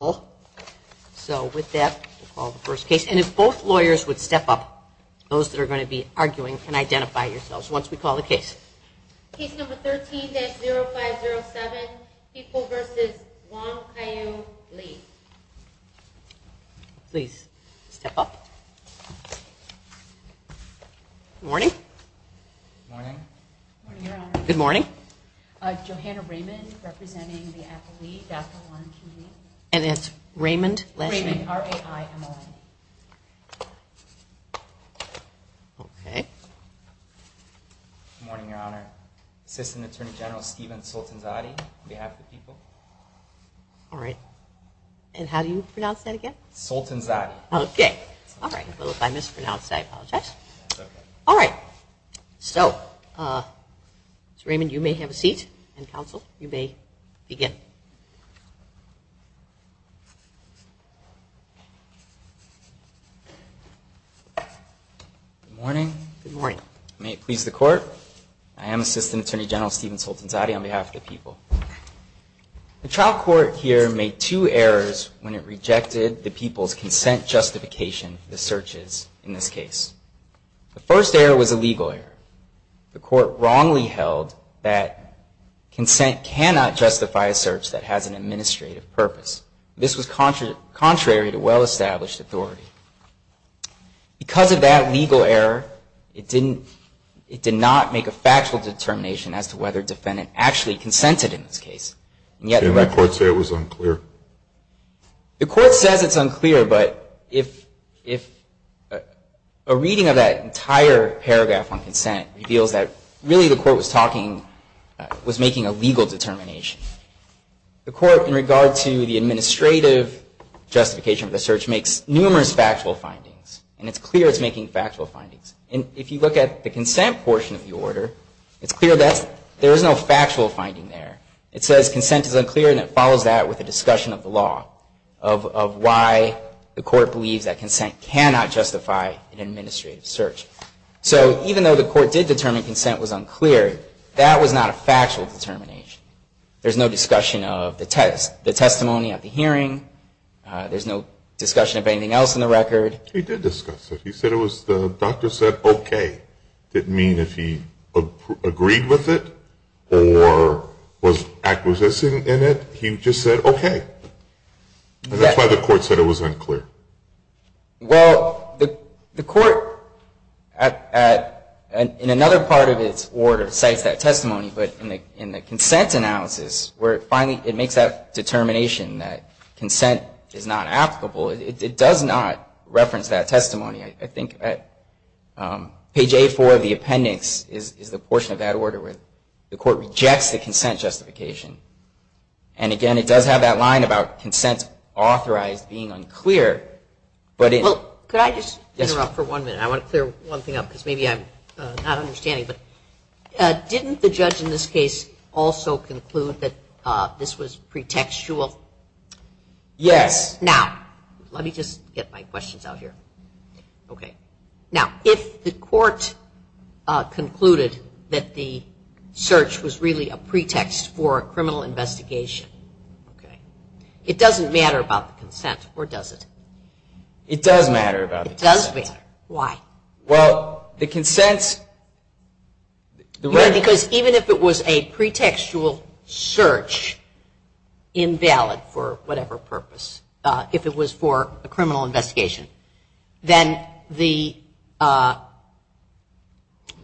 So with that, we'll call the first case. And if both lawyers would step up, those that are going to be arguing can identify yourselves once we call the case. Case number 13-0507, People v. Wong, Caillou, Lee. Please step up. Good morning. Morning. Good morning, Your Honor. Good morning. Johanna Raymond, representing the Apple Lee, Dr. Wong, Caillou. And it's Raymond, last name? Raymond, R-A-I-M-O-N-E. Okay. Good morning, Your Honor. Assistant Attorney General Stephen Soltanzade, on behalf of the people. All right. And how do you pronounce that again? Soltanzade. Okay. All right. A little time mispronounced. I apologize. That's okay. All right. So, Mr. Raymond, you may have a seat and counsel, you may begin. Good morning. Good morning. May it please the Court, I am Assistant Attorney General Stephen Soltanzade on behalf of the people. The trial court here made two errors when it rejected the people's consent justification for the searches in this case. The first error was a legal error. The court wrongly held that consent cannot justify a search that has an administrative purpose. This was contrary to well-established authority. Because of that legal error, it did not make a factual determination as to whether a defendant actually consented in this case. Did the court say it was unclear? The court says it's unclear, but if a reading of that entire paragraph on consent reveals that really the court was talking, was making a legal determination. The court, in regard to the administrative justification of the search, makes numerous factual findings. And it's clear it's making factual findings. And if you look at the consent portion of the order, it's clear that there is no factual finding there. It says consent is unclear, and it follows that with a discussion of the law, of why the court believes that consent cannot justify an administrative search. So even though the court did determine consent was unclear, that was not a factual determination. There's no discussion of the testimony at the hearing. There's no discussion of anything else in the record. He did discuss it. He said it was, the doctor said, okay. Didn't mean if he agreed with it or was acquiescing in it. He just said, okay. And that's why the court said it was unclear. Well, the court, in another part of its order, cites that testimony. But in the consent analysis, where finally it makes that determination that consent is not applicable, it does not reference that testimony. I think page 8-4 of the appendix is the portion of that order where the court rejects the consent justification. And, again, it does have that line about consent authorized being unclear. Could I just interrupt for one minute? I want to clear one thing up because maybe I'm not understanding. But didn't the judge in this case also conclude that this was pretextual? Yes. Yes. Now, let me just get my questions out here. Okay. Now, if the court concluded that the search was really a pretext for a criminal investigation, it doesn't matter about the consent, or does it? It does matter about the consent. It does matter. Why? Well, the consent. No, because even if it was a pretextual search, invalid for whatever purpose, if it was for a criminal investigation, then the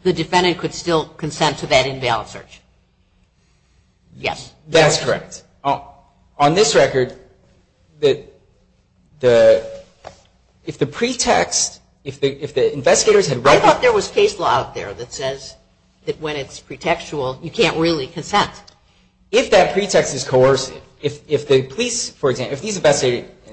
defendant could still consent to that invalid search. Yes. That's correct. On this record, if the pretext, if the investigators had recognized that there was case law out there that says that when it's pretextual, you can't really consent. If that pretext is coercive, if the police, for example, if these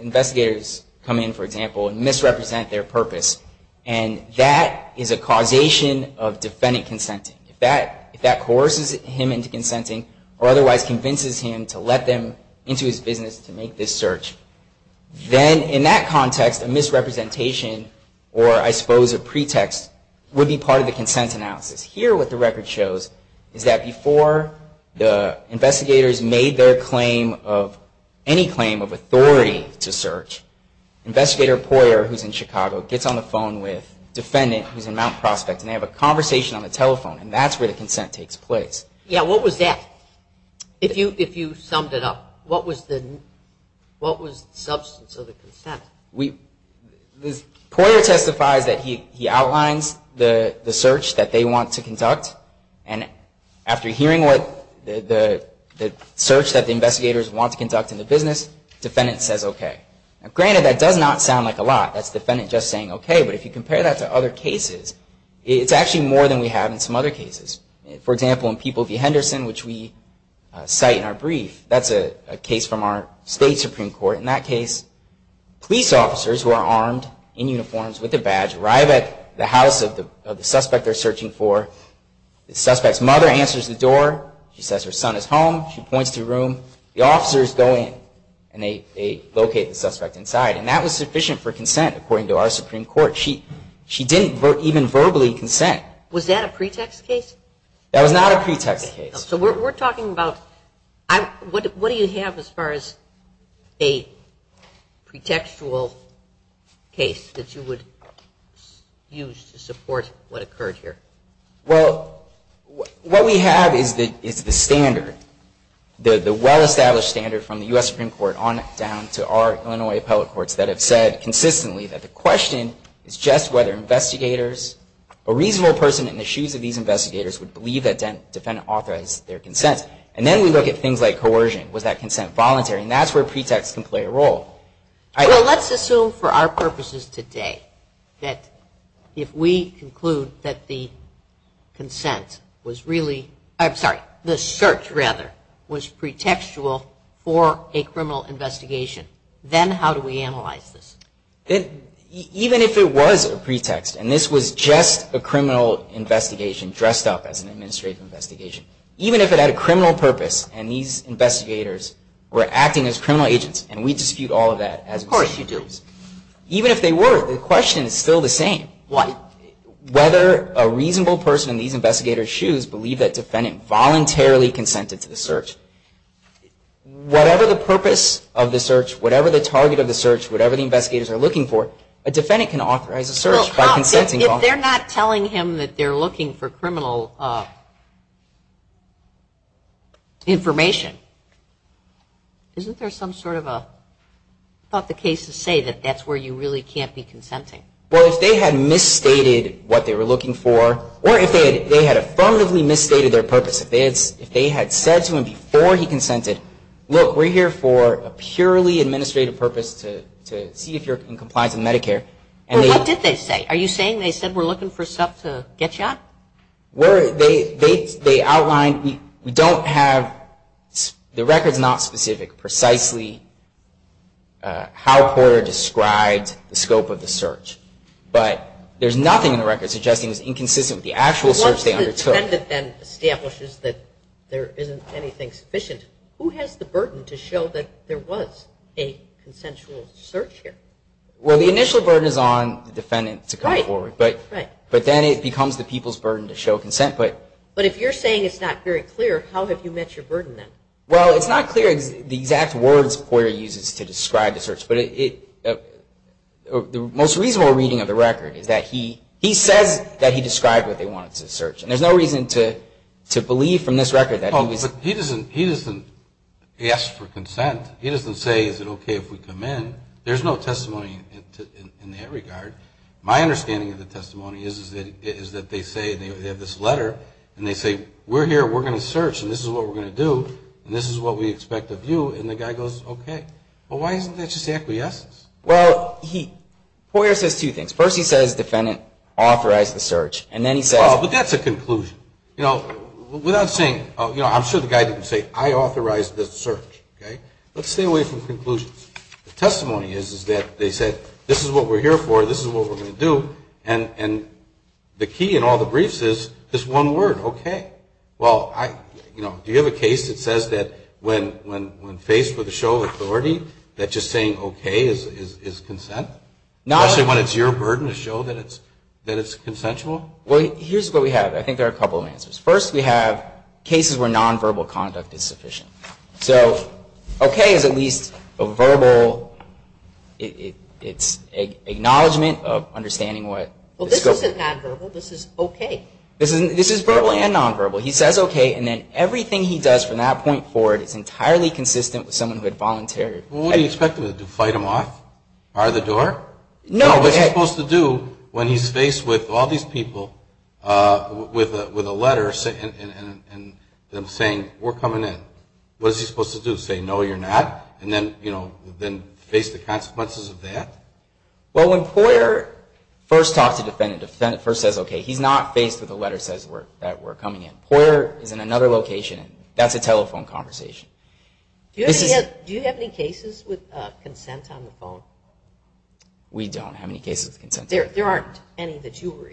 investigators come in, for example, and misrepresent their purpose, and that is a causation of defendant consenting, if that coerces him into consenting, or otherwise convinces him to let them into his business to make this search, then in that context, a misrepresentation, or I suppose a pretext, would be part of the consent analysis. Here, what the record shows is that before the investigators made their claim of, any claim of authority to search, Investigator Poyer, who's in Chicago, gets on the phone with the defendant, who's in Mount Prospect, and they have a conversation on the telephone, and that's where the consent takes place. Yeah, what was that? If you summed it up, what was the substance of the consent? Poyer testifies that he outlines the search that they want to conduct, and after hearing the search that the investigators want to conduct in the business, the defendant says okay. Granted, that does not sound like a lot. That's the defendant just saying okay, but if you compare that to other cases, it's actually more than we have in some other cases. For example, in People v. Henderson, which we cite in our brief, that's a case from our state Supreme Court. In that case, police officers who are armed in uniforms with a badge arrive at the house of the suspect they're searching for. The suspect's mother answers the door. She says her son is home. She points to the room. The officers go in, and they locate the suspect inside, and that was sufficient for consent, according to our Supreme Court. She didn't even verbally consent. Was that a pretext case? That was not a pretext case. So we're talking about what do you have as far as a pretextual case that you would use to support what occurred here? Well, what we have is the standard, the well-established standard from the U.S. Supreme Court on down to our Illinois appellate courts that have said consistently that the question is just whether investigators, a reasonable person in the shoes of these investigators, would believe that the defendant authorized their consent. And then we look at things like coercion. Was that consent voluntary? And that's where pretexts can play a role. Well, let's assume for our purposes today that if we conclude that the consent was really – I'm sorry, the search, rather, was pretextual for a criminal investigation, then how do we analyze this? Even if it was a pretext and this was just a criminal investigation dressed up as an administrative investigation, even if it had a criminal purpose and these investigators were acting as criminal agents, and we dispute all of that. Of course you do. Even if they were, the question is still the same. What? Whether a reasonable person in these investigators' shoes believed that the defendant voluntarily consented to the search. Whatever the purpose of the search, whatever the target of the search, whatever the investigators are looking for, a defendant can authorize a search by consenting. Well, if they're not telling him that they're looking for criminal information, isn't there some sort of a – about the case to say that that's where you really can't be consenting? Well, if they had misstated what they were looking for, or if they had affirmatively misstated their purpose, if they had said to him before he consented, look, we're here for a purely administrative purpose to see if you're in compliance with Medicare. Well, what did they say? Are you saying they said we're looking for stuff to get you out? They outlined – we don't have – the record's not specific precisely how Porter described the scope of the search. But there's nothing in the record suggesting it was inconsistent with the actual search they undertook. If the defendant then establishes that there isn't anything sufficient, who has the burden to show that there was a consensual search here? Well, the initial burden is on the defendant to come forward. Right. But then it becomes the people's burden to show consent. But if you're saying it's not very clear, how have you met your burden then? Well, it's not clear the exact words Porter uses to describe the search. But the most reasonable reading of the record is that he says that he described what they wanted to search. And there's no reason to believe from this record that he was – Oh, but he doesn't ask for consent. He doesn't say, is it okay if we come in? There's no testimony in that regard. My understanding of the testimony is that they say – they have this letter and they say, we're here, we're going to search and this is what we're going to do and this is what we expect of you. And the guy goes, okay. Well, why isn't that just acquiescence? Well, he – Porter says two things. First, he says defendant authorized the search. And then he says – Well, but that's a conclusion. Without saying – I'm sure the guy didn't say, I authorized the search. Let's stay away from conclusions. The testimony is that they said, this is what we're here for, this is what we're going to do, and the key in all the briefs is this one word, okay. Well, do you have a case that says that when faced with a show of authority, that just saying okay is consent? Especially when it's your burden to show that it's consensual? Well, here's what we have. I think there are a couple of answers. First, we have cases where nonverbal conduct is sufficient. So okay is at least a verbal – it's acknowledgement of understanding what – Well, this isn't nonverbal. This is okay. This is verbal and nonverbal. He says okay and then everything he does from that point forward is entirely consistent with someone who had volunteered. Well, what do you expect him to do? Fight him off? Bar the door? No. What's he supposed to do when he's faced with all these people with a letter and them saying we're coming in? What is he supposed to do? Say no, you're not? And then, you know, face the consequences of that? Well, when Poyer first talks to a defendant, the defendant first says okay, he's not faced with a letter that says we're coming in. Poyer is in another location. That's a telephone conversation. Do you have any cases with consent on the phone? We don't have any cases with consent. There aren't any that you were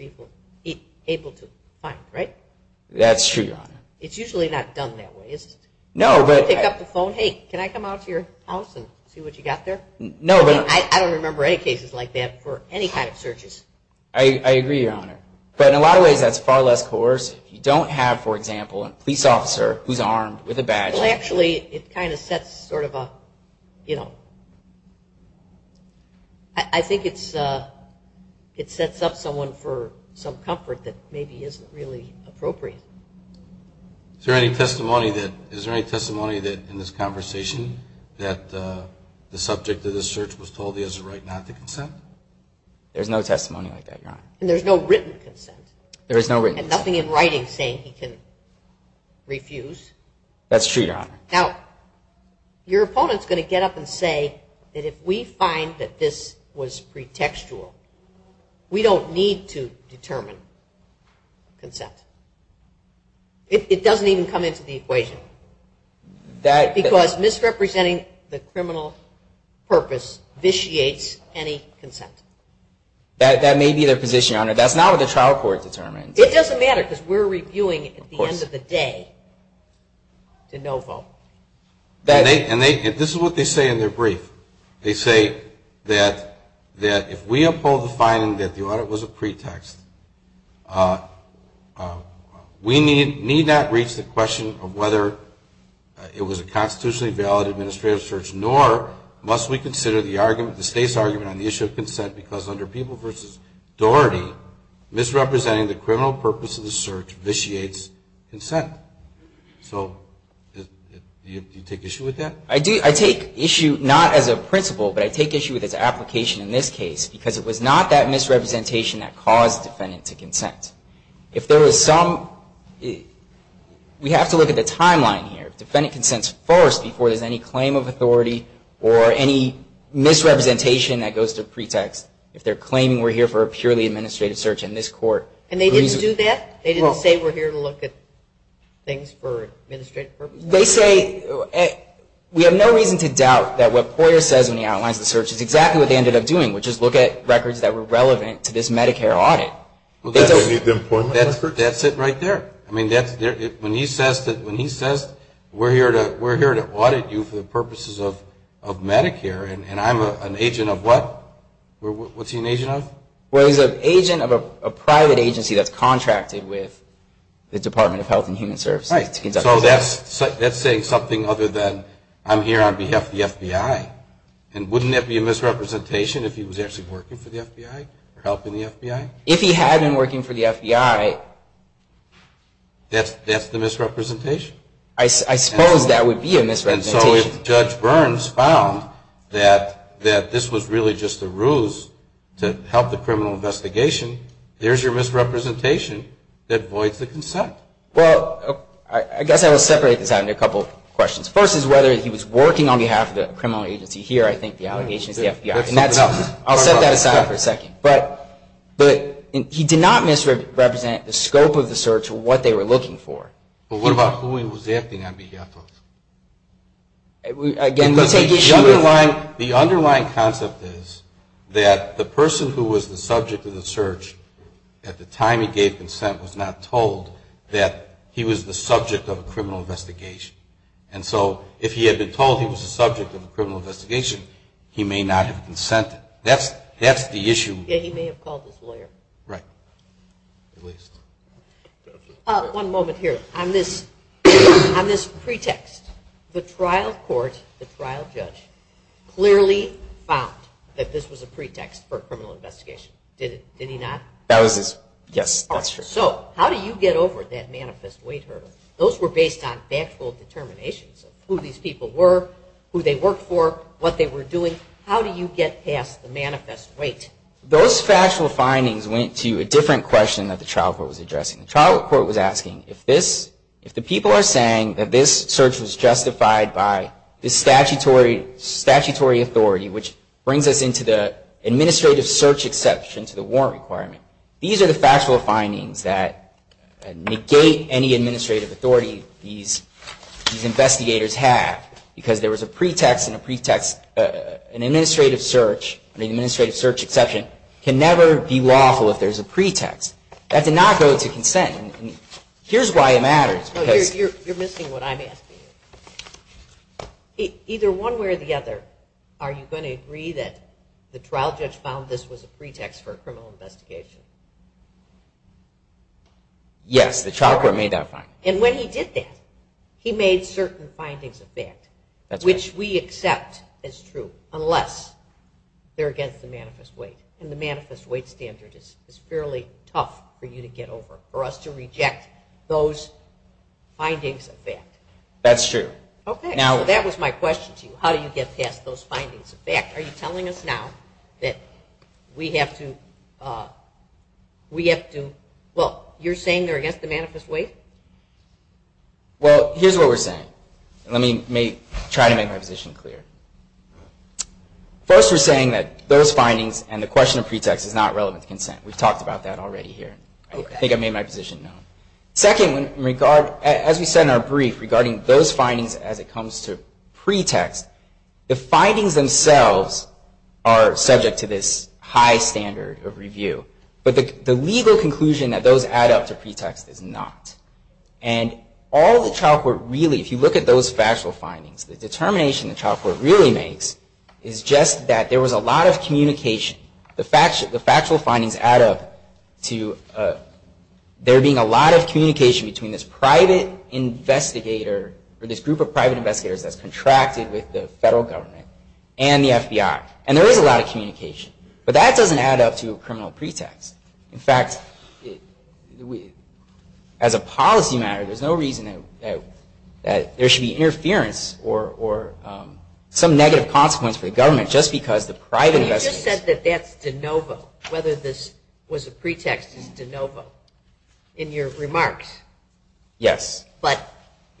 able to find, right? That's true, Your Honor. It's usually not done that way, is it? No, but – You pick up the phone, hey, can I come out to your house and see what you got there? No, but – I don't remember any cases like that for any kind of searches. I agree, Your Honor. But in a lot of ways that's far less coercive. You don't have, for example, a police officer who's armed with a badge. Well, actually, it kind of sets sort of a, you know, I think it sets up someone for some comfort that maybe isn't really appropriate. Is there any testimony that, in this conversation, that the subject of this search was told he has a right not to consent? There's no testimony like that, Your Honor. And there's no written consent? There is no written consent. And nothing in writing saying he can refuse? That's true, Your Honor. Now, your opponent's going to get up and say that if we find that this was pretextual, we don't need to determine consent. It doesn't even come into the equation. Because misrepresenting the criminal purpose vitiates any consent. That may be their position, Your Honor. That's not what the trial court determines. It doesn't matter because we're reviewing it at the end of the day to no vote. And this is what they say in their brief. They say that if we uphold the finding that the audit was a pretext, we need not reach the question of whether it was a constitutionally valid administrative search, nor must we consider the argument, the state's argument on the issue of consent, because under People v. Doherty, misrepresenting the criminal purpose of the search vitiates consent. So do you take issue with that? I do. I take issue not as a principle, but I take issue with its application in this case, because it was not that misrepresentation that caused the defendant to consent. If there was some, we have to look at the timeline here. or any misrepresentation that goes to pretext, if they're claiming we're here for a purely administrative search in this court. And they didn't do that? They didn't say we're here to look at things for administrative purposes? They say we have no reason to doubt that what Poyer says when he outlines the search is exactly what they ended up doing, which is look at records that were relevant to this Medicare audit. That's it right there. When he says we're here to audit you for the purposes of Medicare, and I'm an agent of what? What's he an agent of? Well, he's an agent of a private agency that's contracted with the Department of Health and Human Services. So that's saying something other than I'm here on behalf of the FBI. And wouldn't that be a misrepresentation if he was actually working for the FBI or helping the FBI? If he had been working for the FBI. That's the misrepresentation. I suppose that would be a misrepresentation. And so if Judge Burns found that this was really just a ruse to help the criminal investigation, there's your misrepresentation that voids the consent. Well, I guess I will separate this out into a couple of questions. First is whether he was working on behalf of the criminal agency. Here I think the allegation is the FBI. I'll set that aside for a second. But he did not misrepresent the scope of the search or what they were looking for. But what about who he was acting on behalf of? The underlying concept is that the person who was the subject of the search at the time he gave consent was not told that he was the subject of a criminal investigation. And so if he had been told he was the subject of a criminal investigation, he may not have consented. That's the issue. He may have called his lawyer. Right. One moment here. On this pretext, the trial court, the trial judge, clearly found that this was a pretext for a criminal investigation. Did he not? Yes, that's true. So how do you get over that manifest weight hurdle? Those were based on factual determinations of who these people were, who they worked for, what they were doing. How do you get past the manifest weight? Those factual findings went to a different question that the trial court was addressing. The trial court was asking if the people are saying that this search was justified by the statutory authority, which brings us into the administrative search exception to the warrant requirement, these are the factual findings that negate any administrative authority these investigators have. Because there was a pretext and a pretext, an administrative search, an administrative search exception, can never be lawful if there's a pretext. That did not go to consent. Here's why it matters. You're missing what I'm asking. Either one way or the other, are you going to agree that the trial judge found this was a pretext for a criminal investigation? Yes, the trial court made that find. And when he did that, he made certain findings of fact, which we accept as true, unless they're against the manifest weight, and the manifest weight standard is fairly tough for you to get over, for us to reject those findings of fact. That's true. Okay, so that was my question to you. How do you get past those findings of fact? Are you telling us now that we have to, well, you're saying they're against the manifest weight? Well, here's what we're saying. Let me try to make my position clear. First, we're saying that those findings and the question of pretext is not relevant to consent. We've talked about that already here. I think I made my position known. Second, as we said in our brief, regarding those findings as it comes to pretext, the findings themselves are subject to this high standard of review. But the legal conclusion that those add up to pretext is not. And all the trial court really, if you look at those factual findings, the determination the trial court really makes is just that there was a lot of communication. The factual findings add up to there being a lot of communication between this private investigator, or this group of private investigators that's contracted with the federal government and the FBI. And there is a lot of communication. But that doesn't add up to a criminal pretext. In fact, as a policy matter, there's no reason that there should be interference or some negative consequence for the government just because the private investigators- But you just said that that's de novo, whether this was a pretext is de novo in your remarks. Yes. But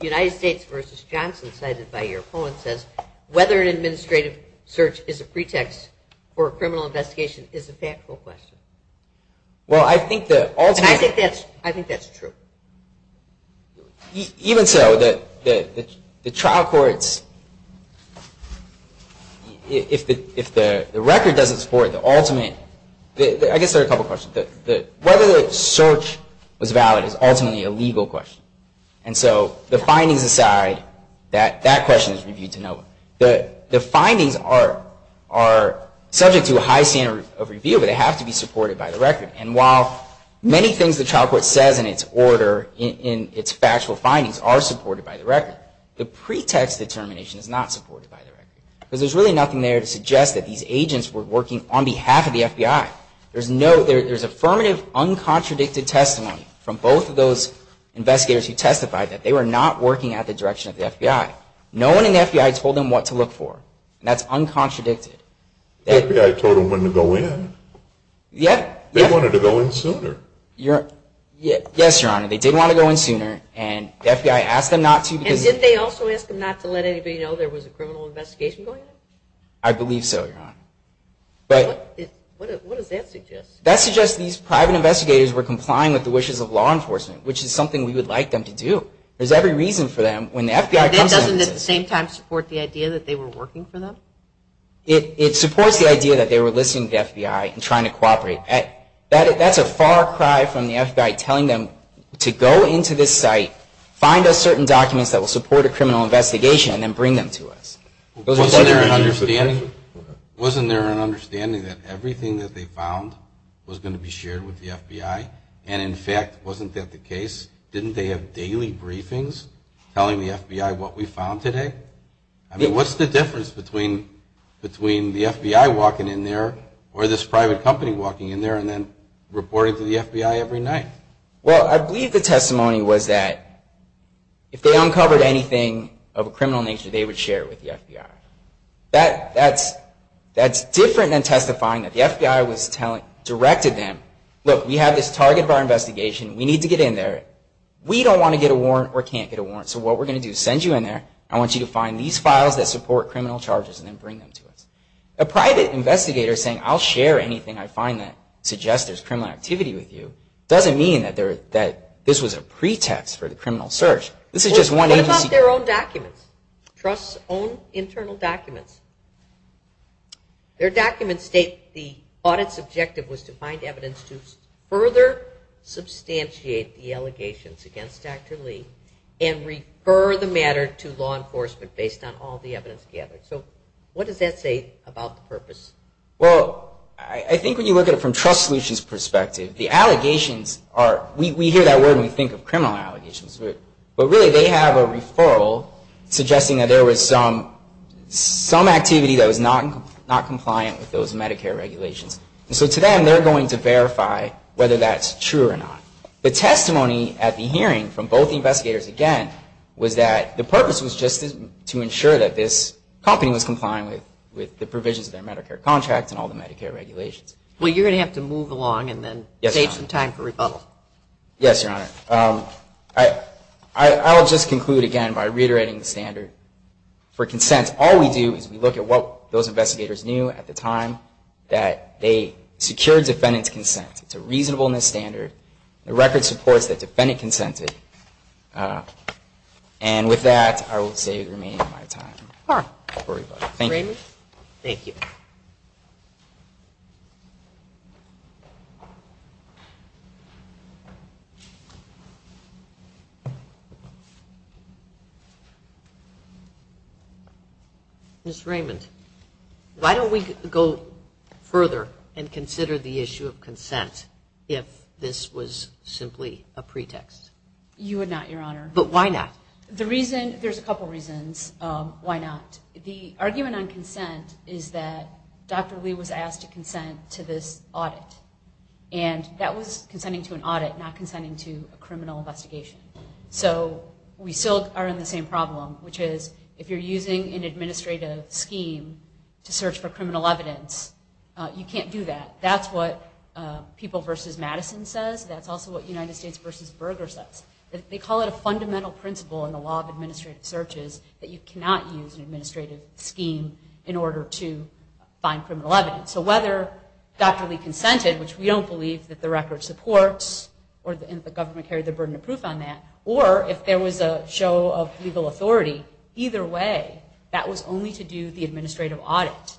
United States v. Johnson cited by your opponent says, whether an administrative search is a pretext for a criminal investigation is a factual question. Well, I think the ultimate- I think that's true. Even so, the trial courts, if the record doesn't support the ultimate- I guess there are a couple questions. Whether the search was valid is ultimately a legal question. And so the findings aside, that question is reviewed de novo. The findings are subject to a high standard of review, but they have to be supported by the record. And while many things the trial court says in its order in its factual findings are supported by the record, the pretext determination is not supported by the record. Because there's really nothing there to suggest that these agents were working on behalf of the FBI. There's affirmative, uncontradicted testimony from both of those investigators who testified that they were not working at the direction of the FBI. No one in the FBI told them what to look for. And that's uncontradicted. The FBI told them when to go in. Yeah. They wanted to go in sooner. Yes, Your Honor. They did want to go in sooner, and the FBI asked them not to because- And did they also ask them not to let anybody know there was a criminal investigation going on? I believe so, Your Honor. What does that suggest? That suggests these private investigators were complying with the wishes of law enforcement, which is something we would like them to do. There's every reason for them. That doesn't at the same time support the idea that they were working for them? It supports the idea that they were listening to the FBI and trying to cooperate. That's a far cry from the FBI telling them to go into this site, find us certain documents that will support a criminal investigation, and then bring them to us. Wasn't there an understanding that everything that they found was going to be shared with the FBI? And, in fact, wasn't that the case? Didn't they have daily briefings telling the FBI what we found today? I mean, what's the difference between the FBI walking in there or this private company walking in there and then reporting to the FBI every night? Well, I believe the testimony was that if they uncovered anything of a criminal nature, they would share it with the FBI. That's different than testifying that the FBI directed them, look, we have this target of our investigation. We need to get in there. We don't want to get a warrant or can't get a warrant, so what we're going to do is send you in there. I want you to find these files that support criminal charges and then bring them to us. A private investigator saying, I'll share anything I find that suggests there's criminal activity with you, doesn't mean that this was a pretext for the criminal search. This is just one agency. What about their own documents, trust's own internal documents? Their documents state the audit's objective was to find evidence to further substantiate the allegations against Dr. Lee and refer the matter to law enforcement based on all the evidence gathered. So what does that say about the purpose? Well, I think when you look at it from Trust Solutions' perspective, the allegations are, we hear that word when we think of criminal allegations, but really they have a referral suggesting that there was some activity that was not compliant with those Medicare regulations. And so to them, they're going to verify whether that's true or not. The testimony at the hearing from both investigators again was that the purpose was just to ensure that this company was complying with the provisions of their Medicare contracts and all the Medicare regulations. Well, you're going to have to move along and then save some time for rebuttal. Yes, Your Honor. I'll just conclude again by reiterating the standard for consent. All we do is we look at what those investigators knew at the time that they secured defendant's consent. It's a reasonableness standard. The record supports that defendant consented. And with that, I will say remain in my time for rebuttal. Thank you. Ms. Raymond, thank you. Ms. Raymond, why don't we go further and consider the issue of consent if this was simply a pretext? You would not, Your Honor. But why not? The reason, there's a couple reasons why not. The argument on consent is that Dr. Lee was asked to consent to this audit. And that was consenting to an audit, not consenting to a criminal investigation. So we still are in the same problem, which is if you're using an administrative scheme to search for criminal evidence, you can't do that. That's what People v. Madison says. That's also what United States v. Berger says. They call it a fundamental principle in the law of administrative searches that you cannot use an administrative scheme in order to find criminal evidence. So whether Dr. Lee consented, which we don't believe that the record supports, or the government carried the burden of proof on that, or if there was a show of legal authority, either way, that was only to do the administrative audit.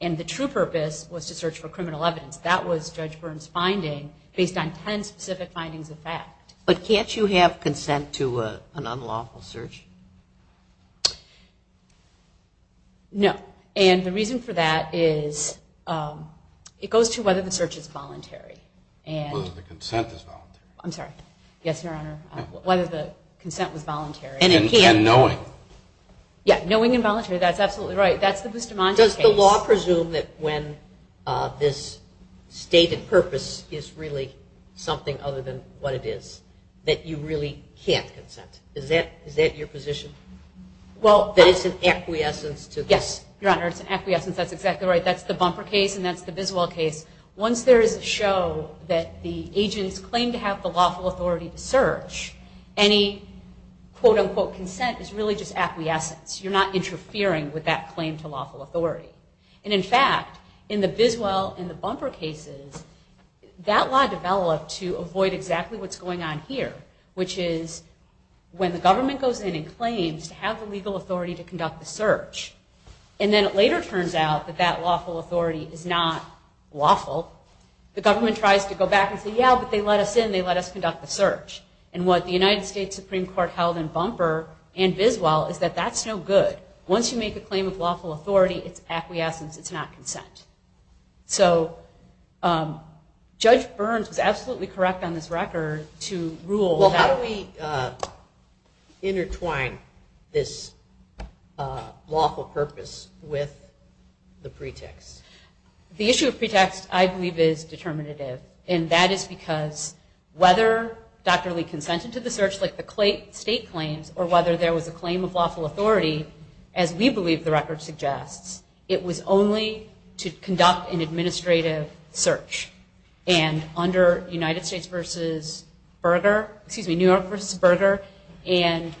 And the true purpose was to search for criminal evidence. That was Judge Byrne's finding based on ten specific findings of fact. But can't you have consent to an unlawful search? No. And the reason for that is it goes to whether the search is voluntary. Whether the consent is voluntary. I'm sorry. Yes, Your Honor. Whether the consent was voluntary. And knowing. Yeah, knowing and voluntary. That's absolutely right. That's the Bustamante case. Does the law presume that when this stated purpose is really something other than what it is, that you really can't consent? Is that your position? That it's an acquiescence to this? Yes, Your Honor, it's an acquiescence. That's exactly right. That's the Bumper case and that's the Biswell case. Once there is a show that the agents claim to have the lawful authority to search, any quote, unquote, consent is really just acquiescence. You're not interfering with that claim to lawful authority. And, in fact, in the Biswell and the Bumper cases, that law developed to avoid exactly what's going on here, which is when the government goes in and claims to have the legal authority to conduct the search, and then it later turns out that that lawful authority is not lawful, the government tries to go back and say, yeah, but they let us in. They let us conduct the search. And what the United States Supreme Court held in Bumper and Biswell is that that's no good. Once you make a claim of lawful authority, it's acquiescence. It's not consent. So Judge Burns was absolutely correct on this record to rule that. Well, how do we intertwine this lawful purpose with the pretext? The issue of pretext, I believe, is determinative. And that is because whether Dr. Lee consented to the search like the state claims or whether there was a claim of lawful authority, as we believe the record suggests, it was only to conduct an administrative search. And under New York v. Berger and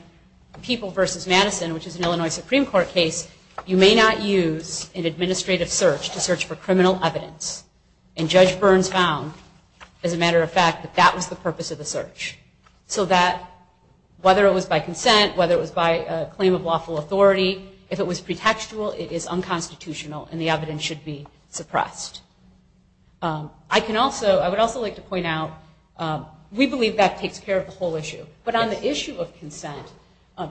People v. Madison, which is an Illinois Supreme Court case, you may not use an administrative search to search for criminal evidence. And Judge Burns found, as a matter of fact, that that was the purpose of the search. So that whether it was by consent, whether it was by a claim of lawful authority, if it was pretextual, it is unconstitutional, and the evidence should be suppressed. I would also like to point out, we believe that takes care of the whole issue. But on the issue of consent,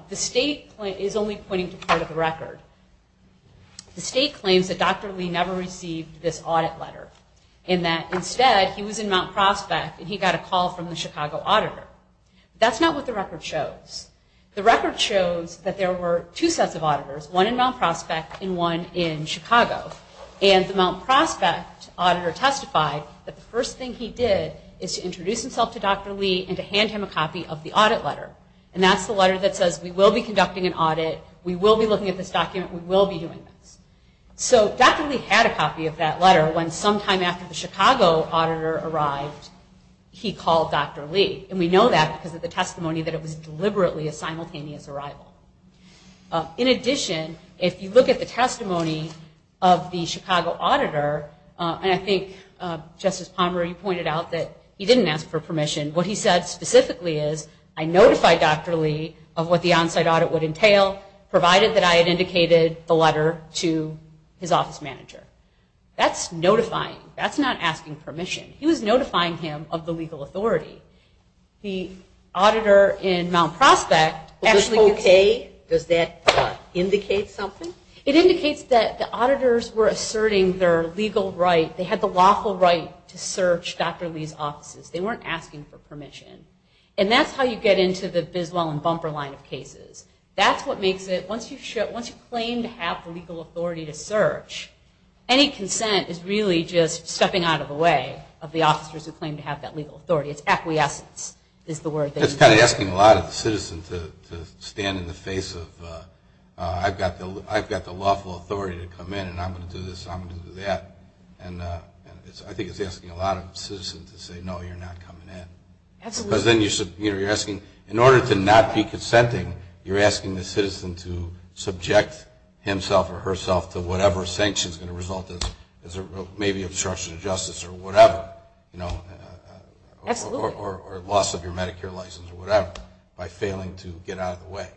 the state is only pointing to part of the record. The state claims that Dr. Lee never received this audit letter, and that instead he was in Mount Prospect and he got a call from the Chicago auditor. That's not what the record shows. The record shows that there were two sets of auditors, one in Mount Prospect and one in Chicago. And the Mount Prospect auditor testified that the first thing he did is to introduce himself to Dr. Lee and to hand him a copy of the audit letter. And that's the letter that says, we will be conducting an audit, we will be looking at this document, we will be doing this. So Dr. Lee had a copy of that letter when sometime after the Chicago auditor arrived, he called Dr. Lee. And we know that because of the testimony that it was deliberately a simultaneous arrival. In addition, if you look at the testimony of the Chicago auditor, and I think Justice Palmer, you pointed out that he didn't ask for permission. What he said specifically is, I notified Dr. Lee of what the on-site audit would entail, provided that I had indicated the letter to his office manager. That's notifying. That's not asking permission. He was notifying him of the legal authority. The auditor in Mount Prospect- Was this okay? Does that indicate something? It indicates that the auditors were asserting their legal right, they had the lawful right to search Dr. Lee's offices. They weren't asking for permission. And that's how you get into the Biswell and Bumper line of cases. That's what makes it, once you claim to have legal authority to search, any consent is really just stepping out of the way of the officers who claim to have that legal authority. It's acquiescence is the word that you use. It's kind of asking a lot of citizens to stand in the face of, I've got the lawful authority to come in and I'm going to do this and I'm going to do that. I think it's asking a lot of citizens to say, no, you're not coming in. Absolutely. Because then you're asking, in order to not be consenting, you're asking the citizen to subject himself or herself to whatever sanction is going to result in, maybe obstruction of justice or whatever. Absolutely. Or loss of your Medicare license or whatever by failing to get out of the way.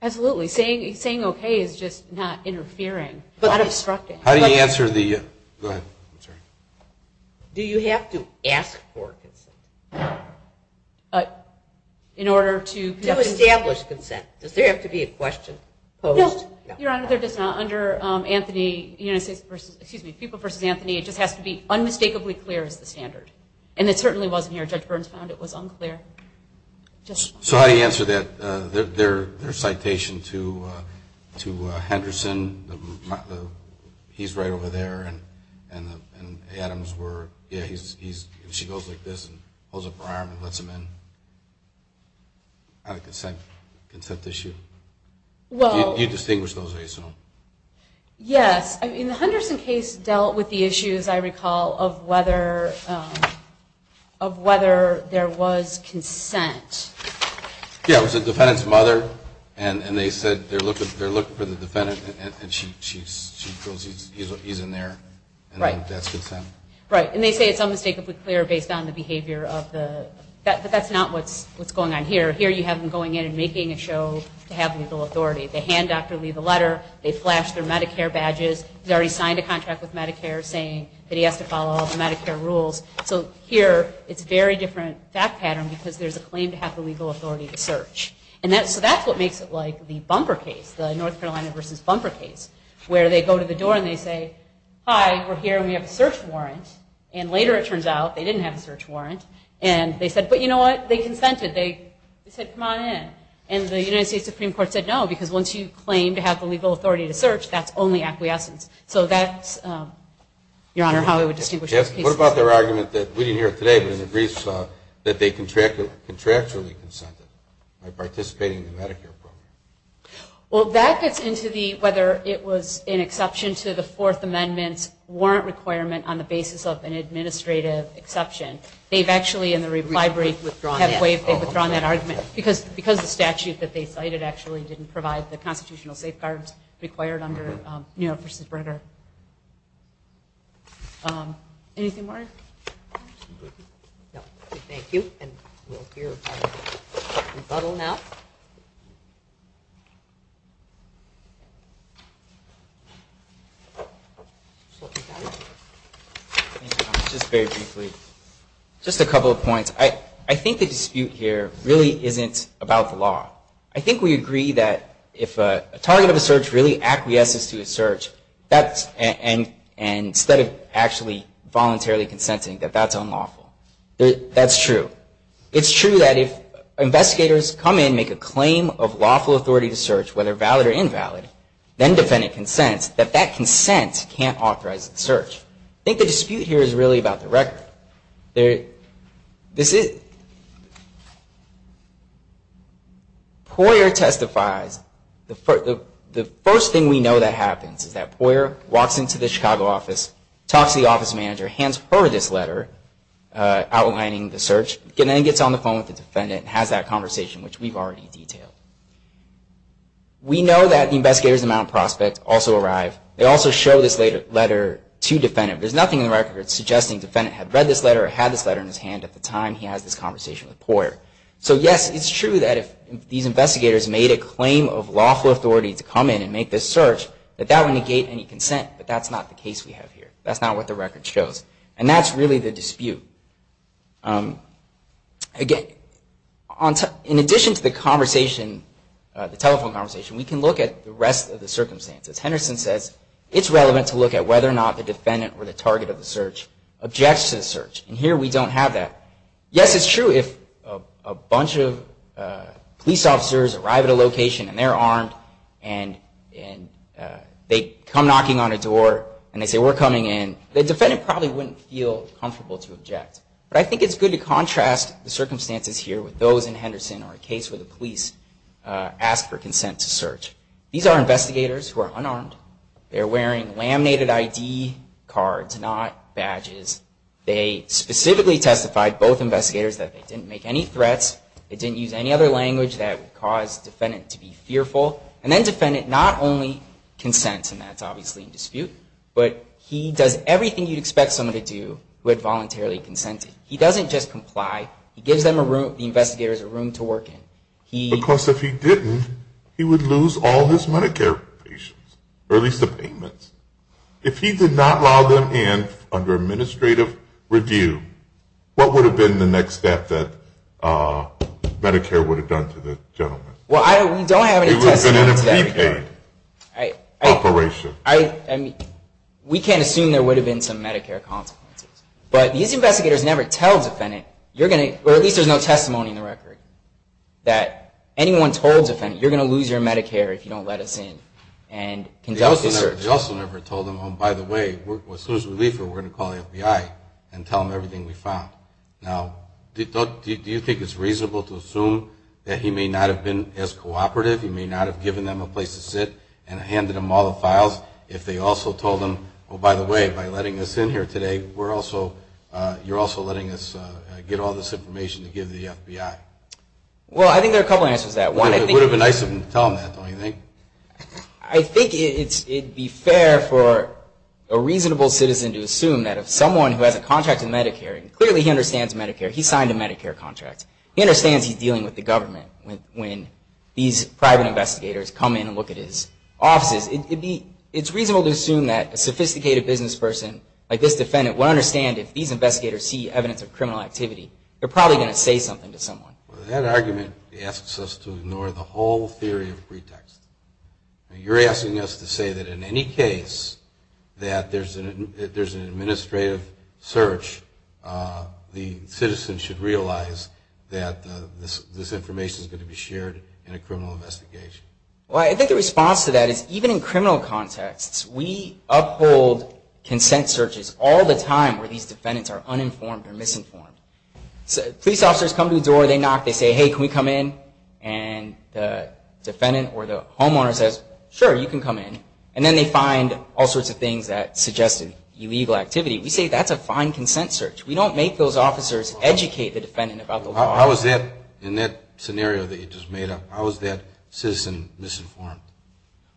Absolutely. Saying okay is just not interfering, not obstructing. How do you answer the, go ahead, I'm sorry. Do you have to ask for consent? In order to, To establish consent. Does there have to be a question posed? No, Your Honor, they're just not under Anthony, excuse me, Fuqua versus Anthony, it just has to be unmistakably clear as the standard. And it certainly wasn't here. Judge Burns found it was unclear. So how do you answer that, their citation to Henderson, he's right over there, and Adams were, yeah, she goes like this and holds up her arm and lets him in. Not a consent issue. You distinguish those, I assume. Yes. In the Henderson case dealt with the issues, I recall, of whether there was consent. Yeah, it was the defendant's mother and they said they're looking for the defendant and she goes, he's in there, and that's consent. Right, and they say it's unmistakably clear based on the behavior of the, but that's not what's going on here. Here you have them going in and making a show to have legal authority. They hand Dr. Lee the letter, they flash their Medicare badges, he's already signed a contract with Medicare saying that he has to follow all the Medicare rules. So here it's a very different fact pattern because there's a claim to have the legal authority to search. So that's what makes it like the bumper case, the North Carolina versus bumper case, where they go to the door and they say, hi, we're here and we have a search warrant. And later it turns out they didn't have a search warrant. And they said, but you know what, they consented. They said, come on in. And the United States Supreme Court said no because once you claim to have the legal authority to search, that's only acquiescence. So that's, Your Honor, how I would distinguish those cases. What about their argument that, we didn't hear it today, but in the briefs that they contractually consented by participating in the Medicare program? Well, that gets into whether it was an exception to the Fourth Amendment's warrant requirement on the basis of an administrative exception. They've actually in the reply brief withdrawn that argument because the statute that they cited actually didn't provide the constitutional safeguards required under New York v. Brenner. Anything more? No. Thank you. And we'll hear a rebuttal now. Just very briefly, just a couple of points. First of all, I think we agree that if a target of a search really acquiesces to a search, and instead of actually voluntarily consenting, that that's unlawful. That's true. It's true that if investigators come in, make a claim of lawful authority to search, whether valid or invalid, then defend a consent, that that consent can't authorize the search. I think the dispute here is really about the record. Poyer testifies. The first thing we know that happens is that Poyer walks into the Chicago office, talks to the office manager, hands her this letter outlining the search, and then gets on the phone with the defendant and has that conversation, which we've already detailed. We know that the investigators in Mount Prospect also arrive. They also show this letter to the defendant. There's nothing in the record suggesting the defendant had read this letter or had this letter in his hand at the time he has this conversation with Poyer. So, yes, it's true that if these investigators made a claim of lawful authority to come in and make this search, that that would negate any consent, but that's not the case we have here. That's not what the record shows. And that's really the dispute. In addition to the telephone conversation, we can look at the rest of the circumstances. As Henderson says, it's relevant to look at whether or not the defendant or the target of the search objects to the search. And here we don't have that. Yes, it's true if a bunch of police officers arrive at a location and they're armed and they come knocking on a door and they say, we're coming in, the defendant probably wouldn't feel comfortable to object. But I think it's good to contrast the circumstances here with those in Henderson or a case where the police ask for consent to search. These are investigators who are unarmed. They're wearing laminated ID cards, not badges. They specifically testified, both investigators, that they didn't make any threats. They didn't use any other language that would cause the defendant to be fearful. And then the defendant not only consents, and that's obviously in dispute, but he does everything you'd expect someone to do who had voluntarily consented. He doesn't just comply. He gives the investigators a room to work in. Because if he didn't, he would lose all his Medicare payments, or at least the payments. If he did not allow them in under administrative review, what would have been the next step that Medicare would have done to the gentleman? He would have been in a prepaid operation. We can't assume there would have been some Medicare consequences. But these investigators never tell the defendant, or at least there's no testimony in the record, that anyone told the defendant, you're going to lose your Medicare if you don't let us in and conduct a search. They also never told them, oh, by the way, as soon as we leave here, we're going to call the FBI and tell them everything we found. Now, do you think it's reasonable to assume that he may not have been as cooperative, he may not have given them a place to sit and handed them all the files, if they also told them, oh, by the way, by letting us in here today, you're also letting us get all this information to give the FBI? Well, I think there are a couple answers to that. It would have been nice to tell them that, don't you think? I think it would be fair for a reasonable citizen to assume that if someone who has a contract in Medicare, and clearly he understands Medicare, he signed a Medicare contract, he understands he's dealing with the government, when these private investigators come in and look at his offices, it's reasonable to assume that a sophisticated business person like this defendant would understand if these investigators see evidence of criminal activity, they're probably going to say something to someone. That argument asks us to ignore the whole theory of pretext. You're asking us to say that in any case that there's an administrative search, the citizen should realize that this information is going to be shared in a criminal investigation. Well, I think the response to that is even in criminal contexts, we uphold consent searches all the time where these defendants are uninformed or misinformed. Police officers come to the door, they knock, they say, hey, can we come in? And the defendant or the homeowner says, sure, you can come in. And then they find all sorts of things that suggested illegal activity. We say that's a fine consent search. We don't make those officers educate the defendant about the law. How is that, in that scenario that you just made up, how is that citizen misinformed?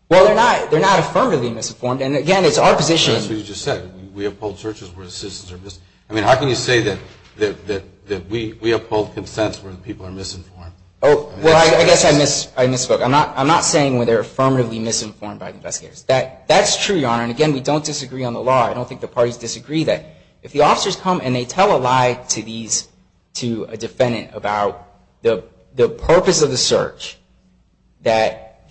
Well, they're not affirmatively misinformed. And, again, it's our position. That's what you just said. We uphold searches where citizens are misinformed. I mean, how can you say that we uphold consents where people are misinformed? Well, I guess I misspoke. I'm not saying where they're affirmatively misinformed by investigators. That's true, Your Honor. And, again, we don't disagree on the law. I don't think the parties disagree that. If the officers come and they tell a lie to a defendant about the purpose of the search, that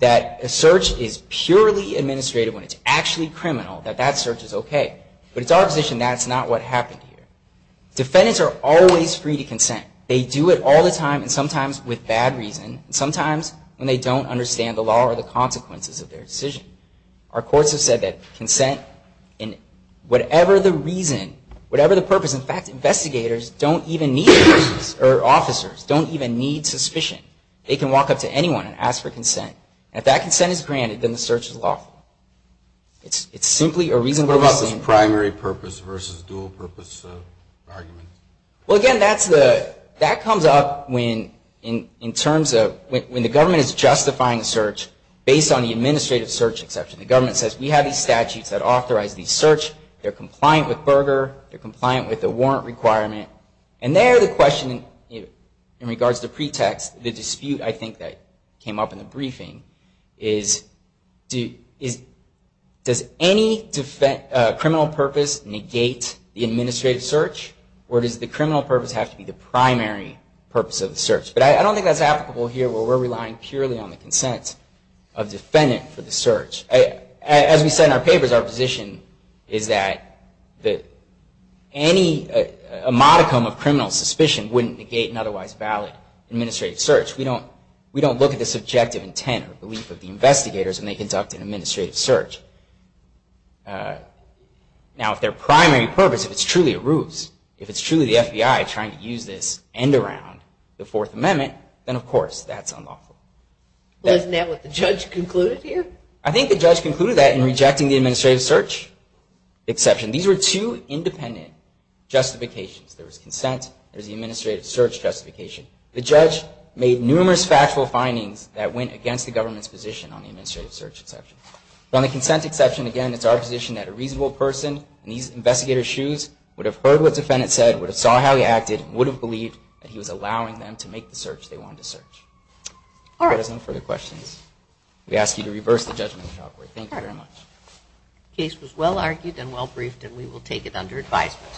a search is purely administrative when it's actually criminal, that that search is okay. But it's our position that's not what happened here. Defendants are always free to consent. They do it all the time, and sometimes with bad reason, and sometimes when they don't understand the law or the consequences of their decision. Our courts have said that consent, whatever the reason, whatever the purpose, in fact, investigators don't even need, or officers don't even need suspicion. They can walk up to anyone and ask for consent. And if that consent is granted, then the search is lawful. It's simply a reasonable decision. What about this primary purpose versus dual purpose argument? Well, again, that comes up when the government is justifying a search based on the administrative search exception. The government says, we have these statutes that authorize the search. They're compliant with Berger. They're compliant with the warrant requirement. And there the question in regards to pretext, the dispute I think that came up in the briefing, is does any criminal purpose negate the administrative search, or does the criminal purpose have to be the primary purpose of the search? But I don't think that's applicable here where we're relying purely on the consent of defendant for the search. As we said in our papers, our position is that any modicum of criminal suspicion wouldn't negate an otherwise valid administrative search. We don't look at the subjective intent or belief of the investigators when they conduct an administrative search. Now, if their primary purpose, if it's truly a ruse, if it's truly the FBI trying to use this and around the Fourth Amendment, then, of course, that's unlawful. Isn't that what the judge concluded here? I think the judge concluded that in rejecting the administrative search exception. These were two independent justifications. There was consent. There was the administrative search justification. The judge made numerous factual findings that went against the government's position on the administrative search exception. On the consent exception, again, it's our position that a reasonable person in these investigators' shoes would have heard what the defendant said, would have saw how he acted, and would have believed that he was allowing them to make the search they wanted to search. If there are no further questions, we ask you to reverse the judgment. Thank you very much. The case was well-argued and well-briefed, and we will take it under advisement.